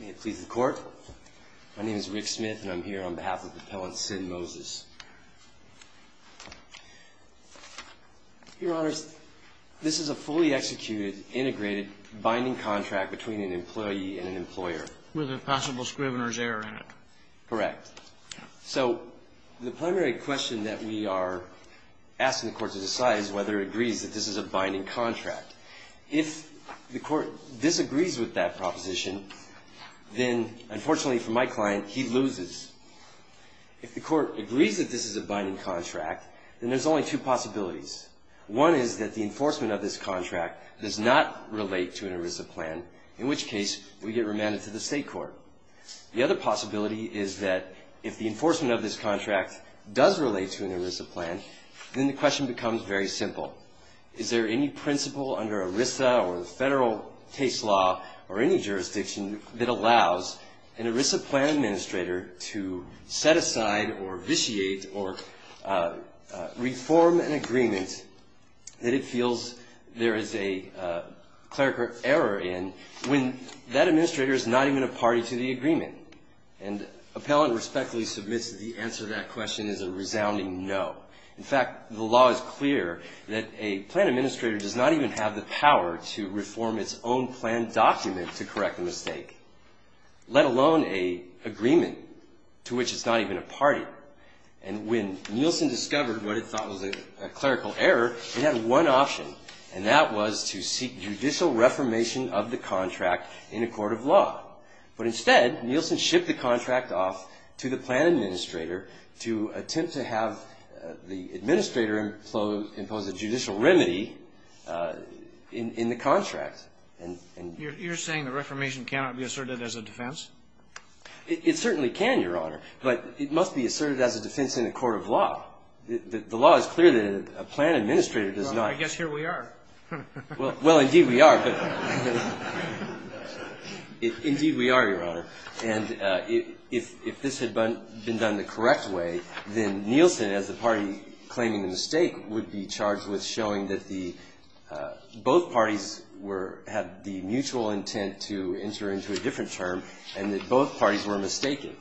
May it please the Court. My name is Rick Smith, and I'm here on behalf of the appellant, Senn Moses. Your Honors, this is a fully executed, integrated, binding contract between an employee and an employer. With a possible scrivener's error in it. Correct. So the primary question that we are asking the Court to decide is whether it agrees that this is a binding contract. If the Court disagrees with that proposition, then unfortunately for my client, he loses. If the Court agrees that this is a binding contract, then there's only two possibilities. One is that the enforcement of this contract does not relate to an ERISA plan, in which case we get remanded to the State Court. The other possibility is that if the enforcement of this contract does relate to an ERISA plan, then the question becomes very simple. Is there any principle under ERISA or the federal case law or any jurisdiction that allows an ERISA plan administrator to set aside or vitiate or reform an agreement that it feels there is a clerical error in when that administrator is not even a party to the agreement? And appellant respectfully submits that the answer to that question is a resounding no. In fact, the law is clear that a plan administrator does not even have the power to reform its own plan document to correct the mistake, let alone an agreement to which it's not even a party. And when Nielsen discovered what it thought was a clerical error, it had one option, and that was to seek judicial reformation of the contract in a court of law. But instead, Nielsen shipped the contract off to the plan administrator to attempt to have the administrator impose a judicial remedy in the contract. You're saying the reformation cannot be asserted as a defense? It certainly can, Your Honor, but it must be asserted as a defense in a court of law. The law is clear that a plan administrator does not. Well, I guess here we are. Well, indeed we are, but indeed we are, Your Honor. And if this had been done the correct way, then Nielsen, as the party claiming the mistake, would be charged with showing that the – both parties were – had the mutual intent to enter into a different term and that both parties were mistaken.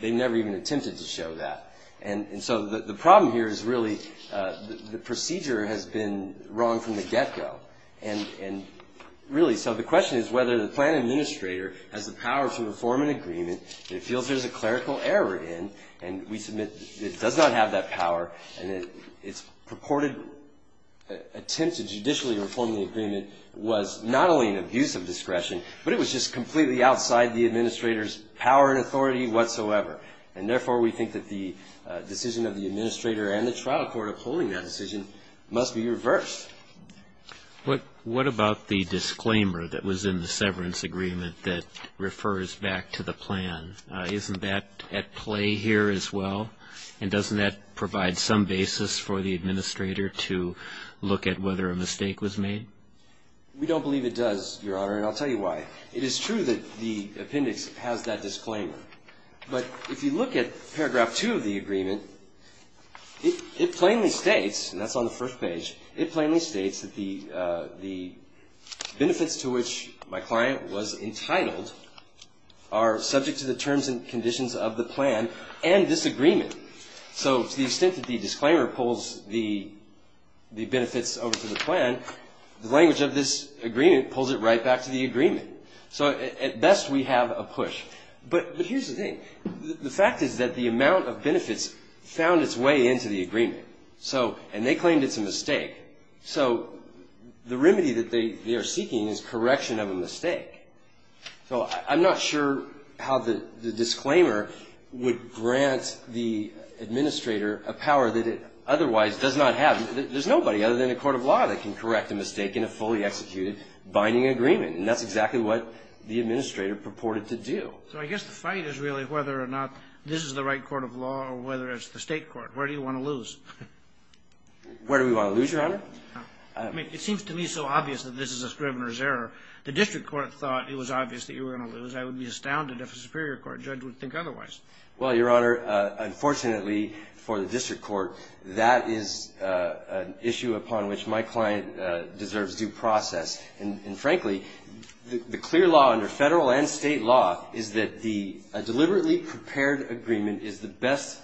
They never even attempted to show that. And so the problem here is really the procedure has been wrong from the get-go. And really, so the question is whether the plan administrator has the power to reform an agreement that it feels there's a clerical error in, and we submit it does not have that power, and its purported attempt to judicially reform the agreement was not only an abuse of discretion, but it was just completely outside the administrator's power and authority whatsoever. And therefore, we think that the decision of the administrator and the trial court upholding that decision must be reversed. What about the disclaimer that was in the severance agreement that refers back to the plan? Isn't that at play here as well? And doesn't that provide some basis for the administrator to look at whether a mistake was made? We don't believe it does, Your Honor, and I'll tell you why. It is true that the appendix has that disclaimer. But if you look at paragraph 2 of the agreement, it plainly states, and that's on the first page, it plainly states that the benefits to which my client was entitled are subject to the terms and conditions of the plan and this agreement. So to the extent that the disclaimer pulls the benefits over to the plan, the language of this agreement pulls it right back to the agreement. So at best we have a push. But here's the thing. The fact is that the amount of benefits found its way into the agreement. And they claimed it's a mistake. So the remedy that they are seeking is correction of a mistake. So I'm not sure how the disclaimer would grant the administrator a power that it otherwise does not have. There's nobody other than a court of law that can correct a mistake in a fully executed binding agreement. And that's exactly what the administrator purported to do. So I guess the fight is really whether or not this is the right court of law or whether it's the state court. Where do you want to lose? Where do we want to lose, Your Honor? It seems to me so obvious that this is a Scrivener's error. The district court thought it was obvious that you were going to lose. I would be astounded if a superior court judge would think otherwise. Well, Your Honor, unfortunately for the district court, that is an issue upon which my client deserves due process. And, frankly, the clear law under federal and state law is that a deliberately prepared agreement is the best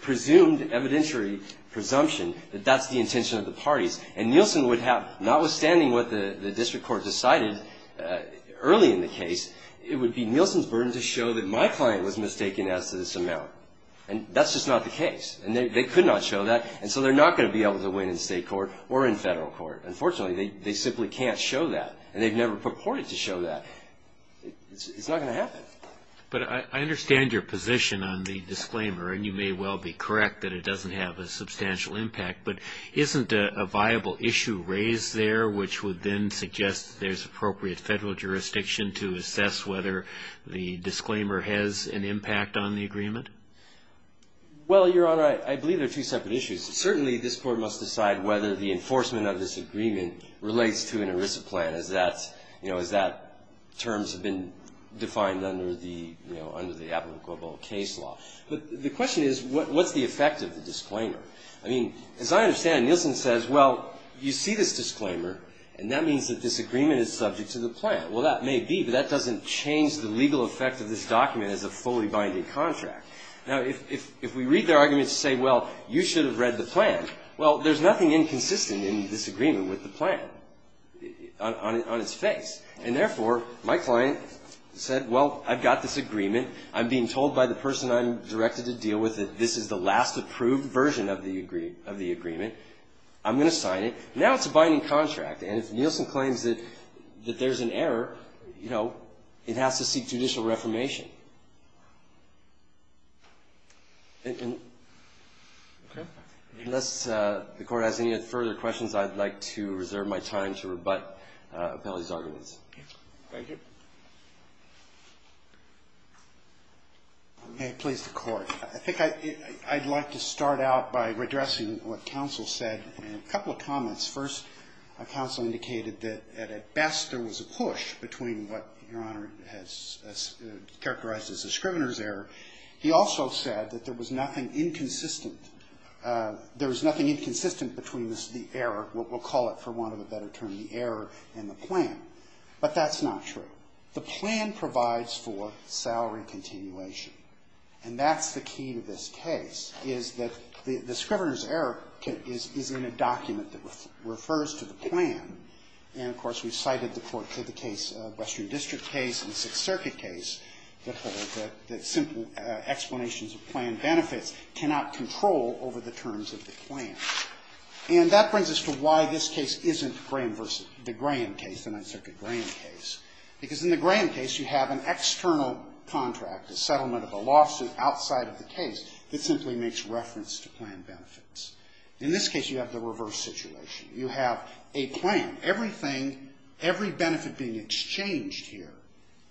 presumed evidentiary presumption that that's the intention of the parties. And Nielsen would have, notwithstanding what the district court decided early in the case, it would be Nielsen's burden to show that my client was mistaken as to this amount. And that's just not the case. And they could not show that. And so they're not going to be able to win in state court or in federal court. Unfortunately, they simply can't show that. And they've never purported to show that. It's not going to happen. But I understand your position on the disclaimer. And you may well be correct that it doesn't have a substantial impact. But isn't a viable issue raised there which would then suggest that there's appropriate federal jurisdiction to assess whether the disclaimer has an impact on the agreement? Well, Your Honor, I believe there are two separate issues. Certainly, this Court must decide whether the enforcement of this agreement relates to an ERISA plan, as that's, you know, as that terms have been defined under the, you know, under the applicable case law. But the question is, what's the effect of the disclaimer? I mean, as I understand, Nielsen says, well, you see this disclaimer. And that means that this agreement is subject to the plan. Well, that may be. But that doesn't change the legal effect of this document as a fully binding contract. Now, if we read their argument to say, well, you should have read the plan, well, there's nothing inconsistent in this agreement with the plan on its face. And therefore, my client said, well, I've got this agreement. I'm being told by the person I'm directed to deal with that this is the last approved version of the agreement. I'm going to sign it. Now it's a binding contract. And if Nielsen claims that there's an error, you know, it has to seek judicial reformation. And unless the Court has any further questions, I'd like to reserve my time to rebut Appellee's arguments. Thank you. May it please the Court. I think I'd like to start out by redressing what counsel said in a couple of comments. First, counsel indicated that at best there was a push between what Your Honor has characterized as a scrivener's error. He also said that there was nothing inconsistent. There was nothing inconsistent between the error, we'll call it for want of a better term, the error and the plan. But that's not true. The plan provides for salary continuation. And that's the key to this case, is that the scrivener's error is in a document that refers to the plan. And, of course, we've cited the Court to the case, Western District case and Sixth Circuit case, that simple explanations of plan benefits cannot control over the terms of the plan. And that brings us to why this case isn't Graham versus the Graham case, the Ninth Circuit Graham case. Because in the Graham case you have an external contract, a settlement of a lawsuit outside of the case that simply makes reference to plan benefits. In this case you have the reverse situation. You have a plan. Everything, every benefit being exchanged here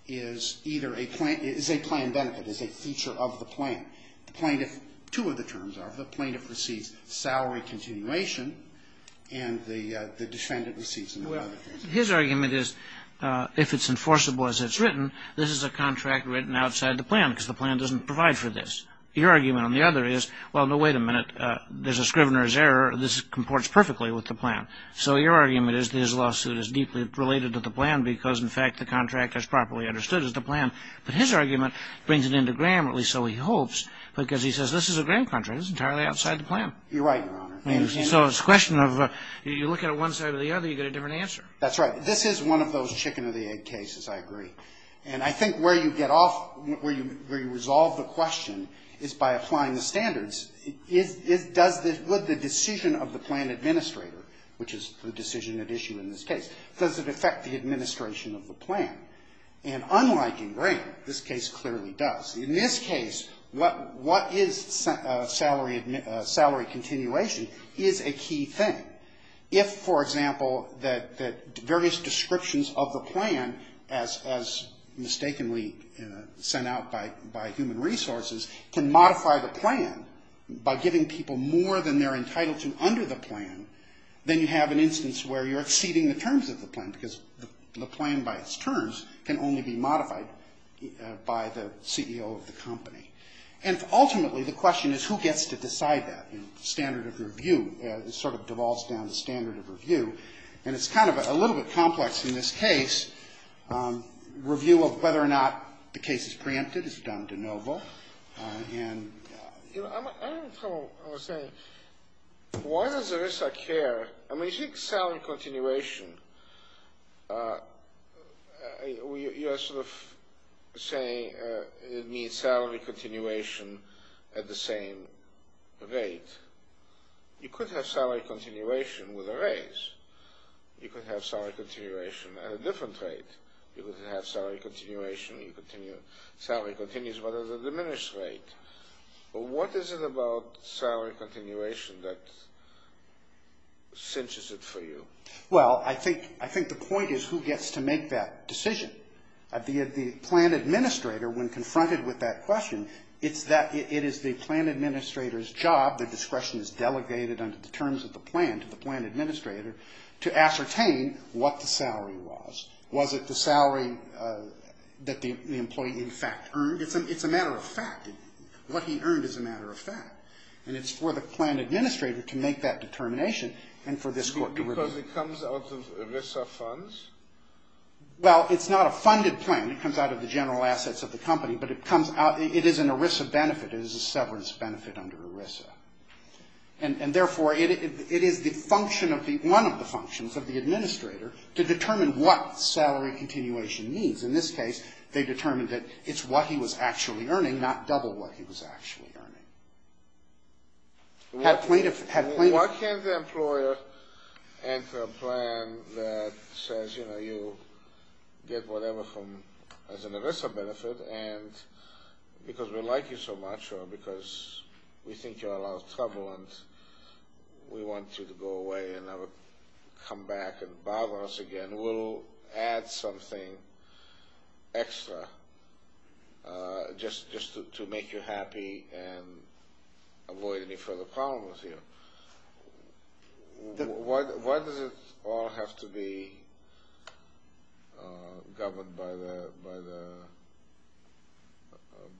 is either a plan, is a plan benefit, is a feature of the plan. The plaintiff, two of the terms are the plaintiff receives salary continuation and the defendant receives another benefit. His argument is if it's enforceable as it's written, this is a contract written outside the plan because the plan doesn't provide for this. Your argument on the other is, well, no, wait a minute. There's a scrivener's error. This comports perfectly with the plan. So your argument is this lawsuit is deeply related to the plan because, in fact, the contract is properly understood as the plan. But his argument brings it into Graham, at least so he hopes, because he says this is a Graham contract. It's entirely outside the plan. You're right, Your Honor. So it's a question of you look at it one side or the other, you get a different answer. That's right. This is one of those chicken or the egg cases, I agree. And I think where you get off, where you resolve the question is by applying the standards. Does the decision of the plan administrator, which is the decision at issue in this case, does it affect the administration of the plan? And unlike in Graham, this case clearly does. In this case, what is salary continuation is a key thing. If, for example, the various descriptions of the plan, as mistakenly sent out by human resources, can modify the plan by giving people more than they're entitled to under the plan, then you have an instance where you're exceeding the terms of the plan, because the plan by its terms can only be modified by the CEO of the company. And ultimately, the question is who gets to decide that. And standard of review sort of devolves down to standard of review. And it's kind of a little bit complex in this case. Review of whether or not the case is preempted is done de novo. And, you know, I don't follow what you're saying. Why does ERISA care? I mean, you think salary continuation, you're sort of saying it means salary continuation at the same rate. You could have salary continuation with a raise. You could have salary continuation at a different rate. You could have salary continuation, salary continues, but at a diminished rate. What is it about salary continuation that cinches it for you? Well, I think the point is who gets to make that decision. The plan administrator, when confronted with that question, it is the plan administrator's job, the discretion is delegated under the terms of the plan to the plan administrator, to ascertain what the salary was. Was it the salary that the employee in fact earned? It's a matter of fact. What he earned is a matter of fact. And it's for the plan administrator to make that determination and for this court to review. Because it comes out of ERISA funds? Well, it's not a funded plan. It comes out of the general assets of the company. But it comes out, it is an ERISA benefit. It is a severance benefit under ERISA. And therefore, it is the function of the, one of the functions of the administrator to determine what salary continuation means. Because in this case, they determined that it's what he was actually earning, not double what he was actually earning. Why can't the employer enter a plan that says, you know, you get whatever from, as an ERISA benefit, and because we like you so much or because we think you're a lot of trouble and we want you to go away and never come back and bother us again. And we'll add something extra just to make you happy and avoid any further problem with you. Why does it all have to be governed by the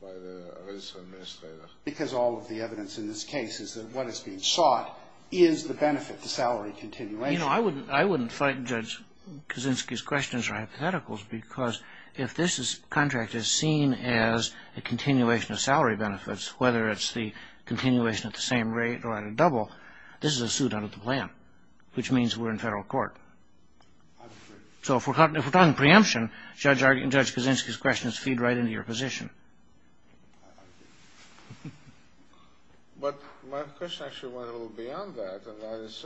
ERISA administrator? Because all of the evidence in this case is that what is being sought is the benefit, the salary continuation. You know, I wouldn't fight Judge Kaczynski's questions or hypotheticals because if this contract is seen as a continuation of salary benefits, whether it's the continuation at the same rate or at a double, this is a suit under the plan, which means we're in federal court. So if we're talking preemption, Judge Kaczynski's questions feed right into your position. I agree. But my question actually went a little beyond that, and that is,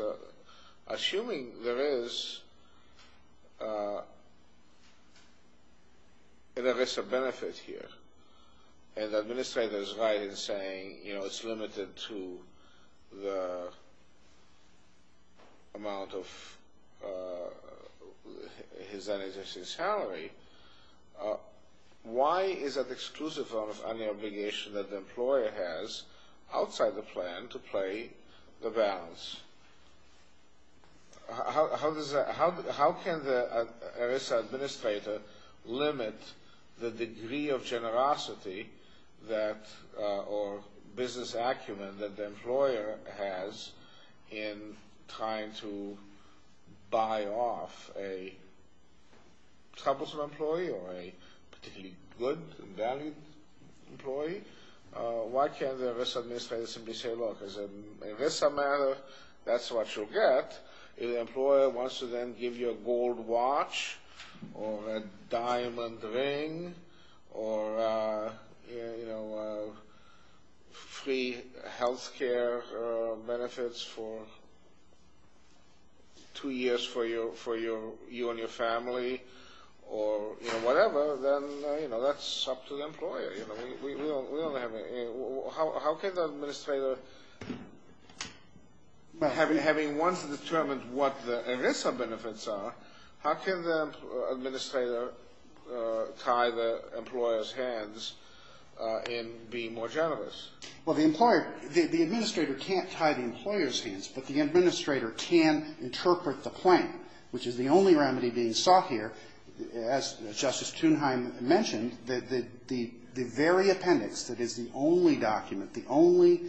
assuming there is an ERISA benefit here and the administrator is right in saying, you know, it's limited to the amount of his existing salary, why is that exclusive on the obligation that the employer has outside the plan to play the balance? How can the ERISA administrator limit the degree of generosity or business acumen that the employer has in trying to buy off a troublesome employee or a particularly good, valued employee? Why can't the ERISA administrator simply say, look, as an ERISA matter, that's what you'll get. If the employer wants to then give you a gold watch or a diamond ring or, you know, free health care benefits for two years for you and your family or, you know, whatever, then, you know, that's up to the employer. How can the administrator, having once determined what the ERISA benefits are, how can the administrator tie the employer's hands in being more generous? Well, the employer, the administrator can't tie the employer's hands, but the administrator can interpret the plan, which is the only remedy being sought here. As Justice Thunheim mentioned, the very appendix that is the only document, the only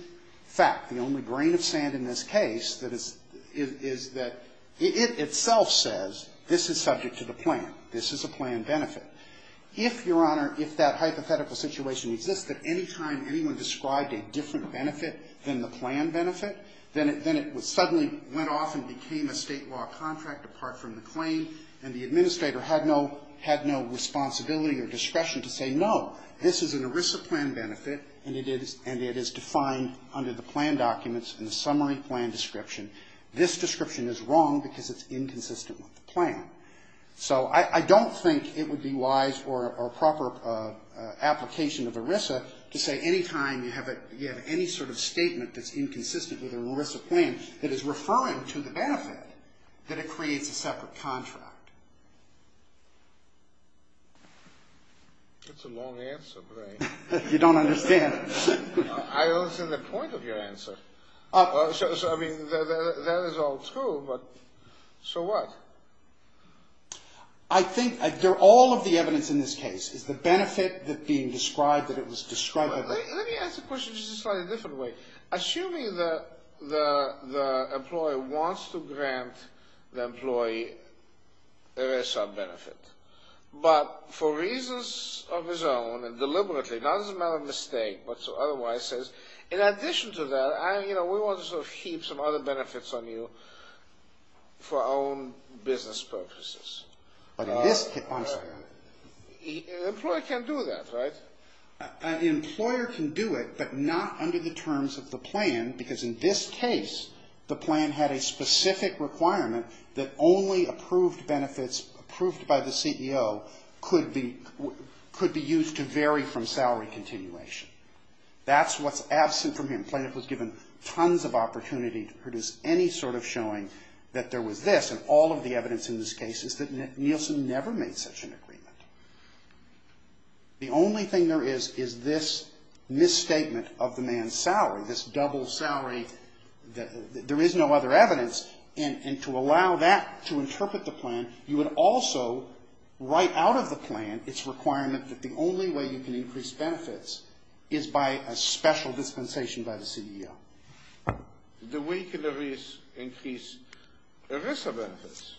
fact, the only grain of sand in this case is that it itself says this is subject to the plan. This is a plan benefit. If, Your Honor, if that hypothetical situation existed, any time anyone described a different benefit than the plan benefit, then it would suddenly went off and became a state law contract apart from the claim, and the administrator had no responsibility or discretion to say, no, this is an ERISA plan benefit, and it is defined under the plan documents in the summary plan description. This description is wrong because it's inconsistent with the plan. So I don't think it would be wise or a proper application of ERISA to say any time you have any sort of statement that's inconsistent with an ERISA plan that is referring to the benefit that it creates a separate contract. That's a long answer, Brian. You don't understand. I understand the point of your answer. I mean, that is all true, but so what? I think all of the evidence in this case is the benefit that being described that it was described. Let me ask the question just a slightly different way. Assuming that the employer wants to grant the employee ERISA benefit, but for reasons of his own and deliberately, not as a matter of mistake, but otherwise says, in addition to that, we want to heap some other benefits on you for our own business purposes. But in this case, an employer can do that, right? An employer can do it, but not under the terms of the plan, because in this case, the plan had a specific requirement that only approved benefits, approved by the CEO, could be used to vary from salary continuation. That's what's absent from here. The plaintiff was given tons of opportunity to produce any sort of showing that there was this, and all of the evidence in this case is that Nielsen never made such an agreement. The only thing there is is this misstatement of the man's salary, this double salary that there is no other evidence. And to allow that to interpret the plan, you would also write out of the plan its requirement that the only way you can increase benefits is by a special dispensation by the CEO. The way you can increase ERISA benefits?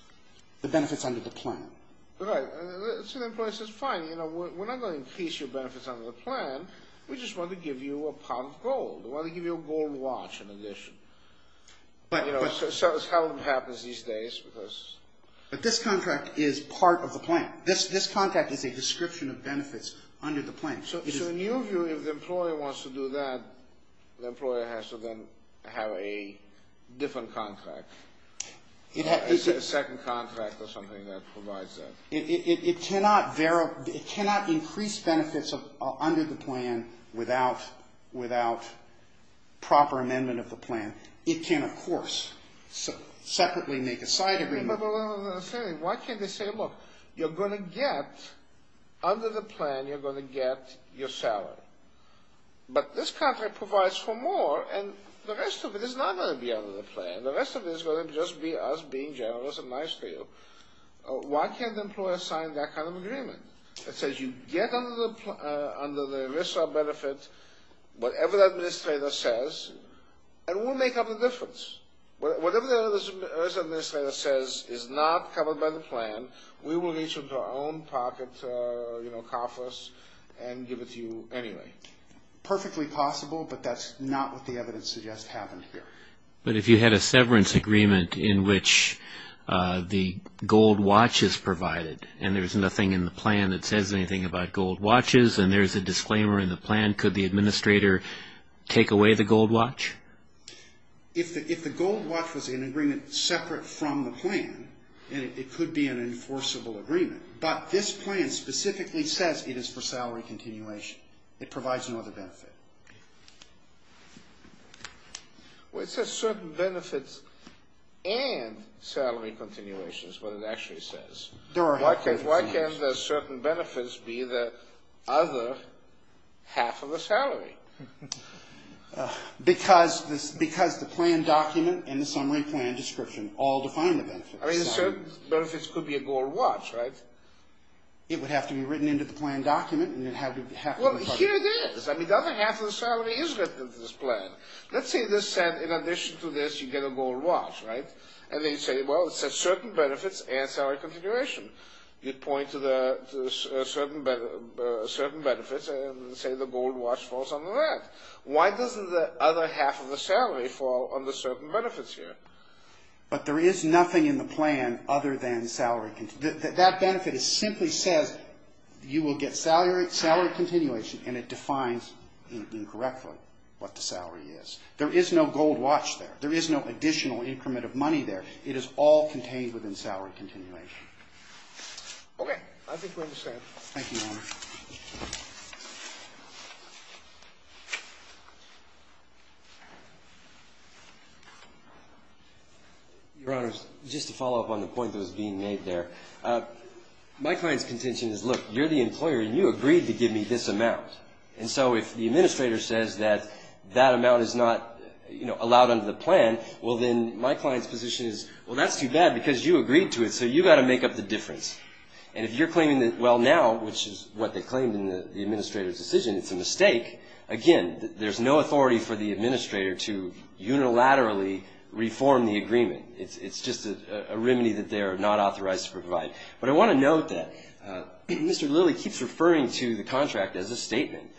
The benefits under the plan. Right. So the employer says, fine, you know, we're not going to increase your benefits under the plan. We just want to give you a pound of gold. We want to give you a gold watch in addition. You know, so that's how it happens these days. But this contract is part of the plan. This contract is a description of benefits under the plan. So in your view, if the employer wants to do that, the employer has to then have a different contract, a second contract or something that provides that. It cannot increase benefits under the plan without proper amendment of the plan. It can, of course, separately make a side agreement. Why can't they say, look, you're going to get under the plan, you're going to get your salary. But this contract provides for more, and the rest of it is not going to be under the plan. The rest of it is going to just be us being generous and nice to you. Why can't the employer sign that kind of agreement that says you get under the ERISA benefit, whatever the administrator says, and we'll make up the difference. Whatever the ERISA administrator says is not covered by the plan, we will reach into our own pocket, you know, coffers, and give it to you anyway. Perfectly possible, but that's not what the evidence suggests happened here. But if you had a severance agreement in which the gold watch is provided and there's nothing in the plan that says anything about gold watches and there's a disclaimer in the plan, could the administrator take away the gold watch? If the gold watch was in agreement separate from the plan, it could be an enforceable agreement. But this plan specifically says it is for salary continuation. It provides no other benefit. Well, it says certain benefits and salary continuation is what it actually says. Why can't the certain benefits be the other half of the salary? Because the plan document and the summary plan description all define the benefits. I mean, the certain benefits could be a gold watch, right? It would have to be written into the plan document. Well, here it is. I mean, the other half of the salary is written into this plan. Let's say this said in addition to this you get a gold watch, right? And they say, well, it says certain benefits and salary continuation. You point to the certain benefits and say the gold watch falls under that. Why doesn't the other half of the salary fall under certain benefits here? But there is nothing in the plan other than salary continuation. That benefit simply says you will get salary continuation, and it defines incorrectly what the salary is. There is no gold watch there. There is no additional increment of money there. It is all contained within salary continuation. Okay. I think we understand. Thank you, Your Honor. Your Honor, just to follow up on the point that was being made there. My client's contention is, look, you're the employer, and you agreed to give me this amount. And so if the administrator says that that amount is not, you know, allowed under the plan, well, then my client's position is, well, that's too bad because you agreed to it, so you've got to make up the difference. And if you're claiming that, well, now, which is what? That's not what they claimed in the administrator's decision. It's a mistake. Again, there's no authority for the administrator to unilaterally reform the agreement. It's just a remedy that they are not authorized to provide. But I want to note that Mr. Lilly keeps referring to the contract as a statement.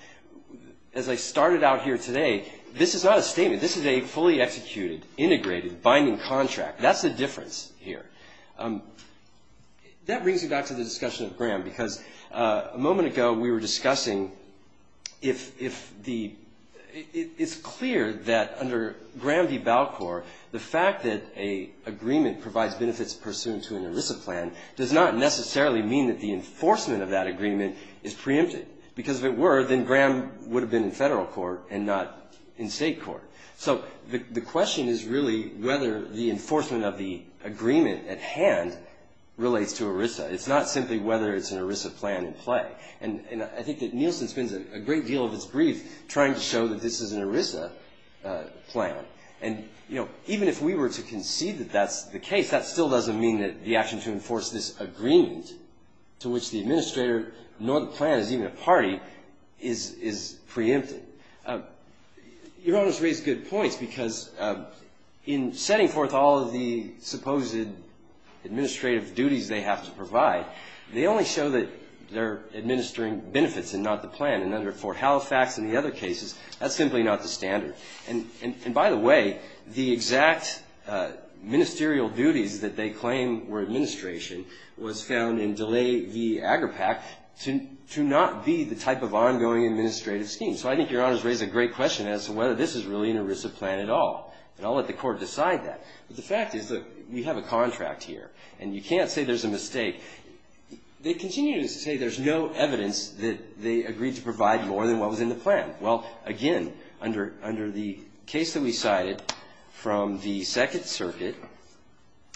As I started out here today, this is not a statement. This is a fully executed, integrated, binding contract. That's the difference here. That brings me back to the discussion of Graham because a moment ago we were discussing if the ‑‑ it's clear that under Graham v. Balcor, the fact that an agreement provides benefits pursuant to an ERISA plan does not necessarily mean that the enforcement of that agreement is preempted. Because if it were, then Graham would have been in federal court and not in state court. So the question is really whether the enforcement of the agreement at hand relates to ERISA. It's not simply whether it's an ERISA plan in play. And I think that Nielsen spends a great deal of his brief trying to show that this is an ERISA plan. And, you know, even if we were to concede that that's the case, that still doesn't mean that the action to enforce this agreement to which the administrator nor the plan is even a party is preempted. Your Honor's raised good points because in setting forth all of the supposed administrative duties they have to provide, they only show that they're administering benefits and not the plan. And under Fort Halifax and the other cases, that's simply not the standard. And by the way, the exact ministerial duties that they claim were administration was found in DeLay v. AgriPAC to not be the type of ongoing administrative scheme. So I think Your Honor's raised a great question as to whether this is really an ERISA plan at all. And I'll let the court decide that. But the fact is that we have a contract here. And you can't say there's a mistake. They continue to say there's no evidence that they agreed to provide more than what was in the plan. Well, again, under the case that we cited from the Second Circuit,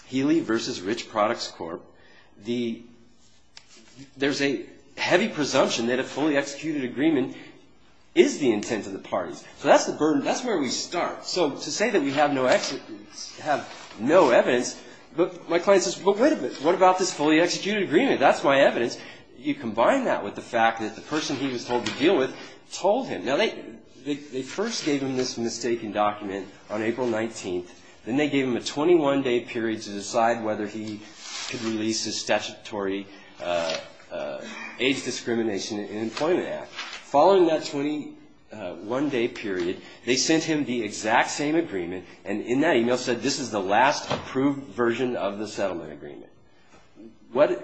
Healy v. Rich Products Corp., there's a heavy presumption that a fully executed agreement is the intent of the parties. So that's the burden. That's where we start. So to say that we have no evidence, my client says, well, wait a minute. What about this fully executed agreement? That's my evidence. You combine that with the fact that the person he was told to deal with told him. Now, they first gave him this mistaken document on April 19th. Then they gave him a 21-day period to decide whether he could release his statutory age discrimination in employment act. Following that 21-day period, they sent him the exact same agreement, and in that email said this is the last approved version of the settlement agreement.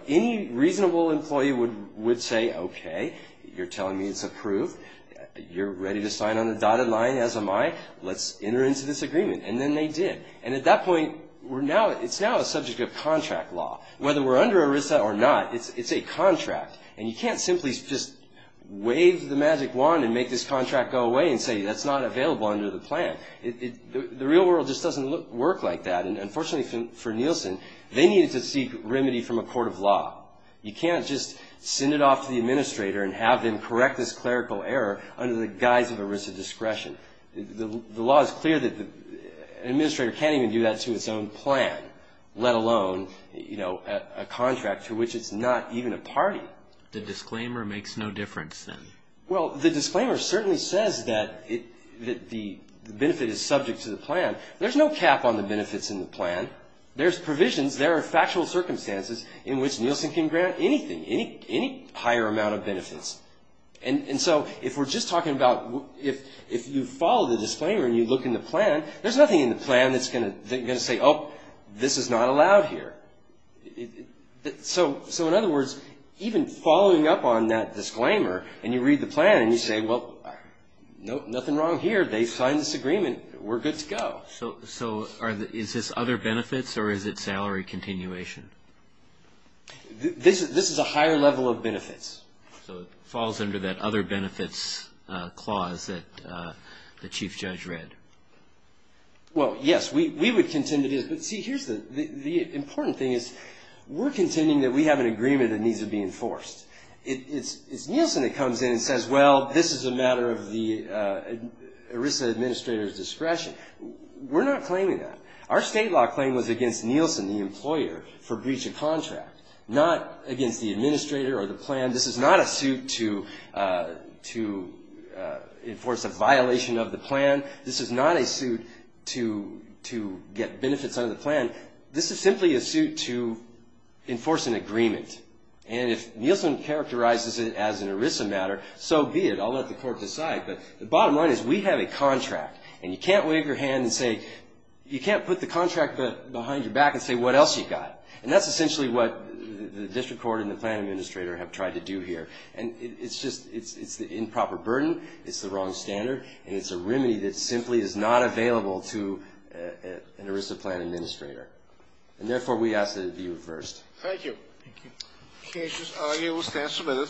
Any reasonable employee would say, okay, you're telling me it's approved. You're ready to sign on the dotted line as am I. Let's enter into this agreement. And then they did. And at that point, it's now a subject of contract law. Whether we're under ERISA or not, it's a contract. And you can't simply just wave the magic wand and make this contract go away and say that's not available under the plan. The real world just doesn't work like that. And unfortunately for Nielsen, they needed to seek remedy from a court of law. You can't just send it off to the administrator and have them correct this clerical error under the guise of ERISA discretion. The law is clear that an administrator can't even do that to its own plan, let alone, you know, a contract to which it's not even a party. The disclaimer makes no difference then. Well, the disclaimer certainly says that the benefit is subject to the plan. There's no cap on the benefits in the plan. There's provisions. There are factual circumstances in which Nielsen can grant anything, any higher amount of benefits. And so if we're just talking about if you follow the disclaimer and you look in the plan, there's nothing in the plan that's going to say, oh, this is not allowed here. So in other words, even following up on that disclaimer and you read the plan and you say, well, nothing wrong here. They signed this agreement. We're good to go. So is this other benefits or is it salary continuation? This is a higher level of benefits. So it falls under that other benefits clause that the Chief Judge read. Well, yes. We would contend it is. But see, here's the important thing is we're contending that we have an agreement that needs to be enforced. It's Nielsen that comes in and says, well, this is a matter of the ERISA administrator's discretion. We're not claiming that. Our state law claim was against Nielsen, the employer, for breach of contract, not against the administrator or the plan. This is not a suit to enforce a violation of the plan. This is not a suit to get benefits under the plan. This is simply a suit to enforce an agreement. And if Nielsen characterizes it as an ERISA matter, so be it. I'll let the court decide. But the bottom line is we have a contract. And you can't wave your hand and say you can't put the contract behind your back and say what else you got. And that's essentially what the district court and the plan administrator have tried to do here. And it's just improper burden. It's the wrong standard. And it's a remedy that simply is not available to an ERISA plan administrator. And therefore, we ask that it be reversed. Thank you. Thank you. Okay, just argue. We'll stand for a minute.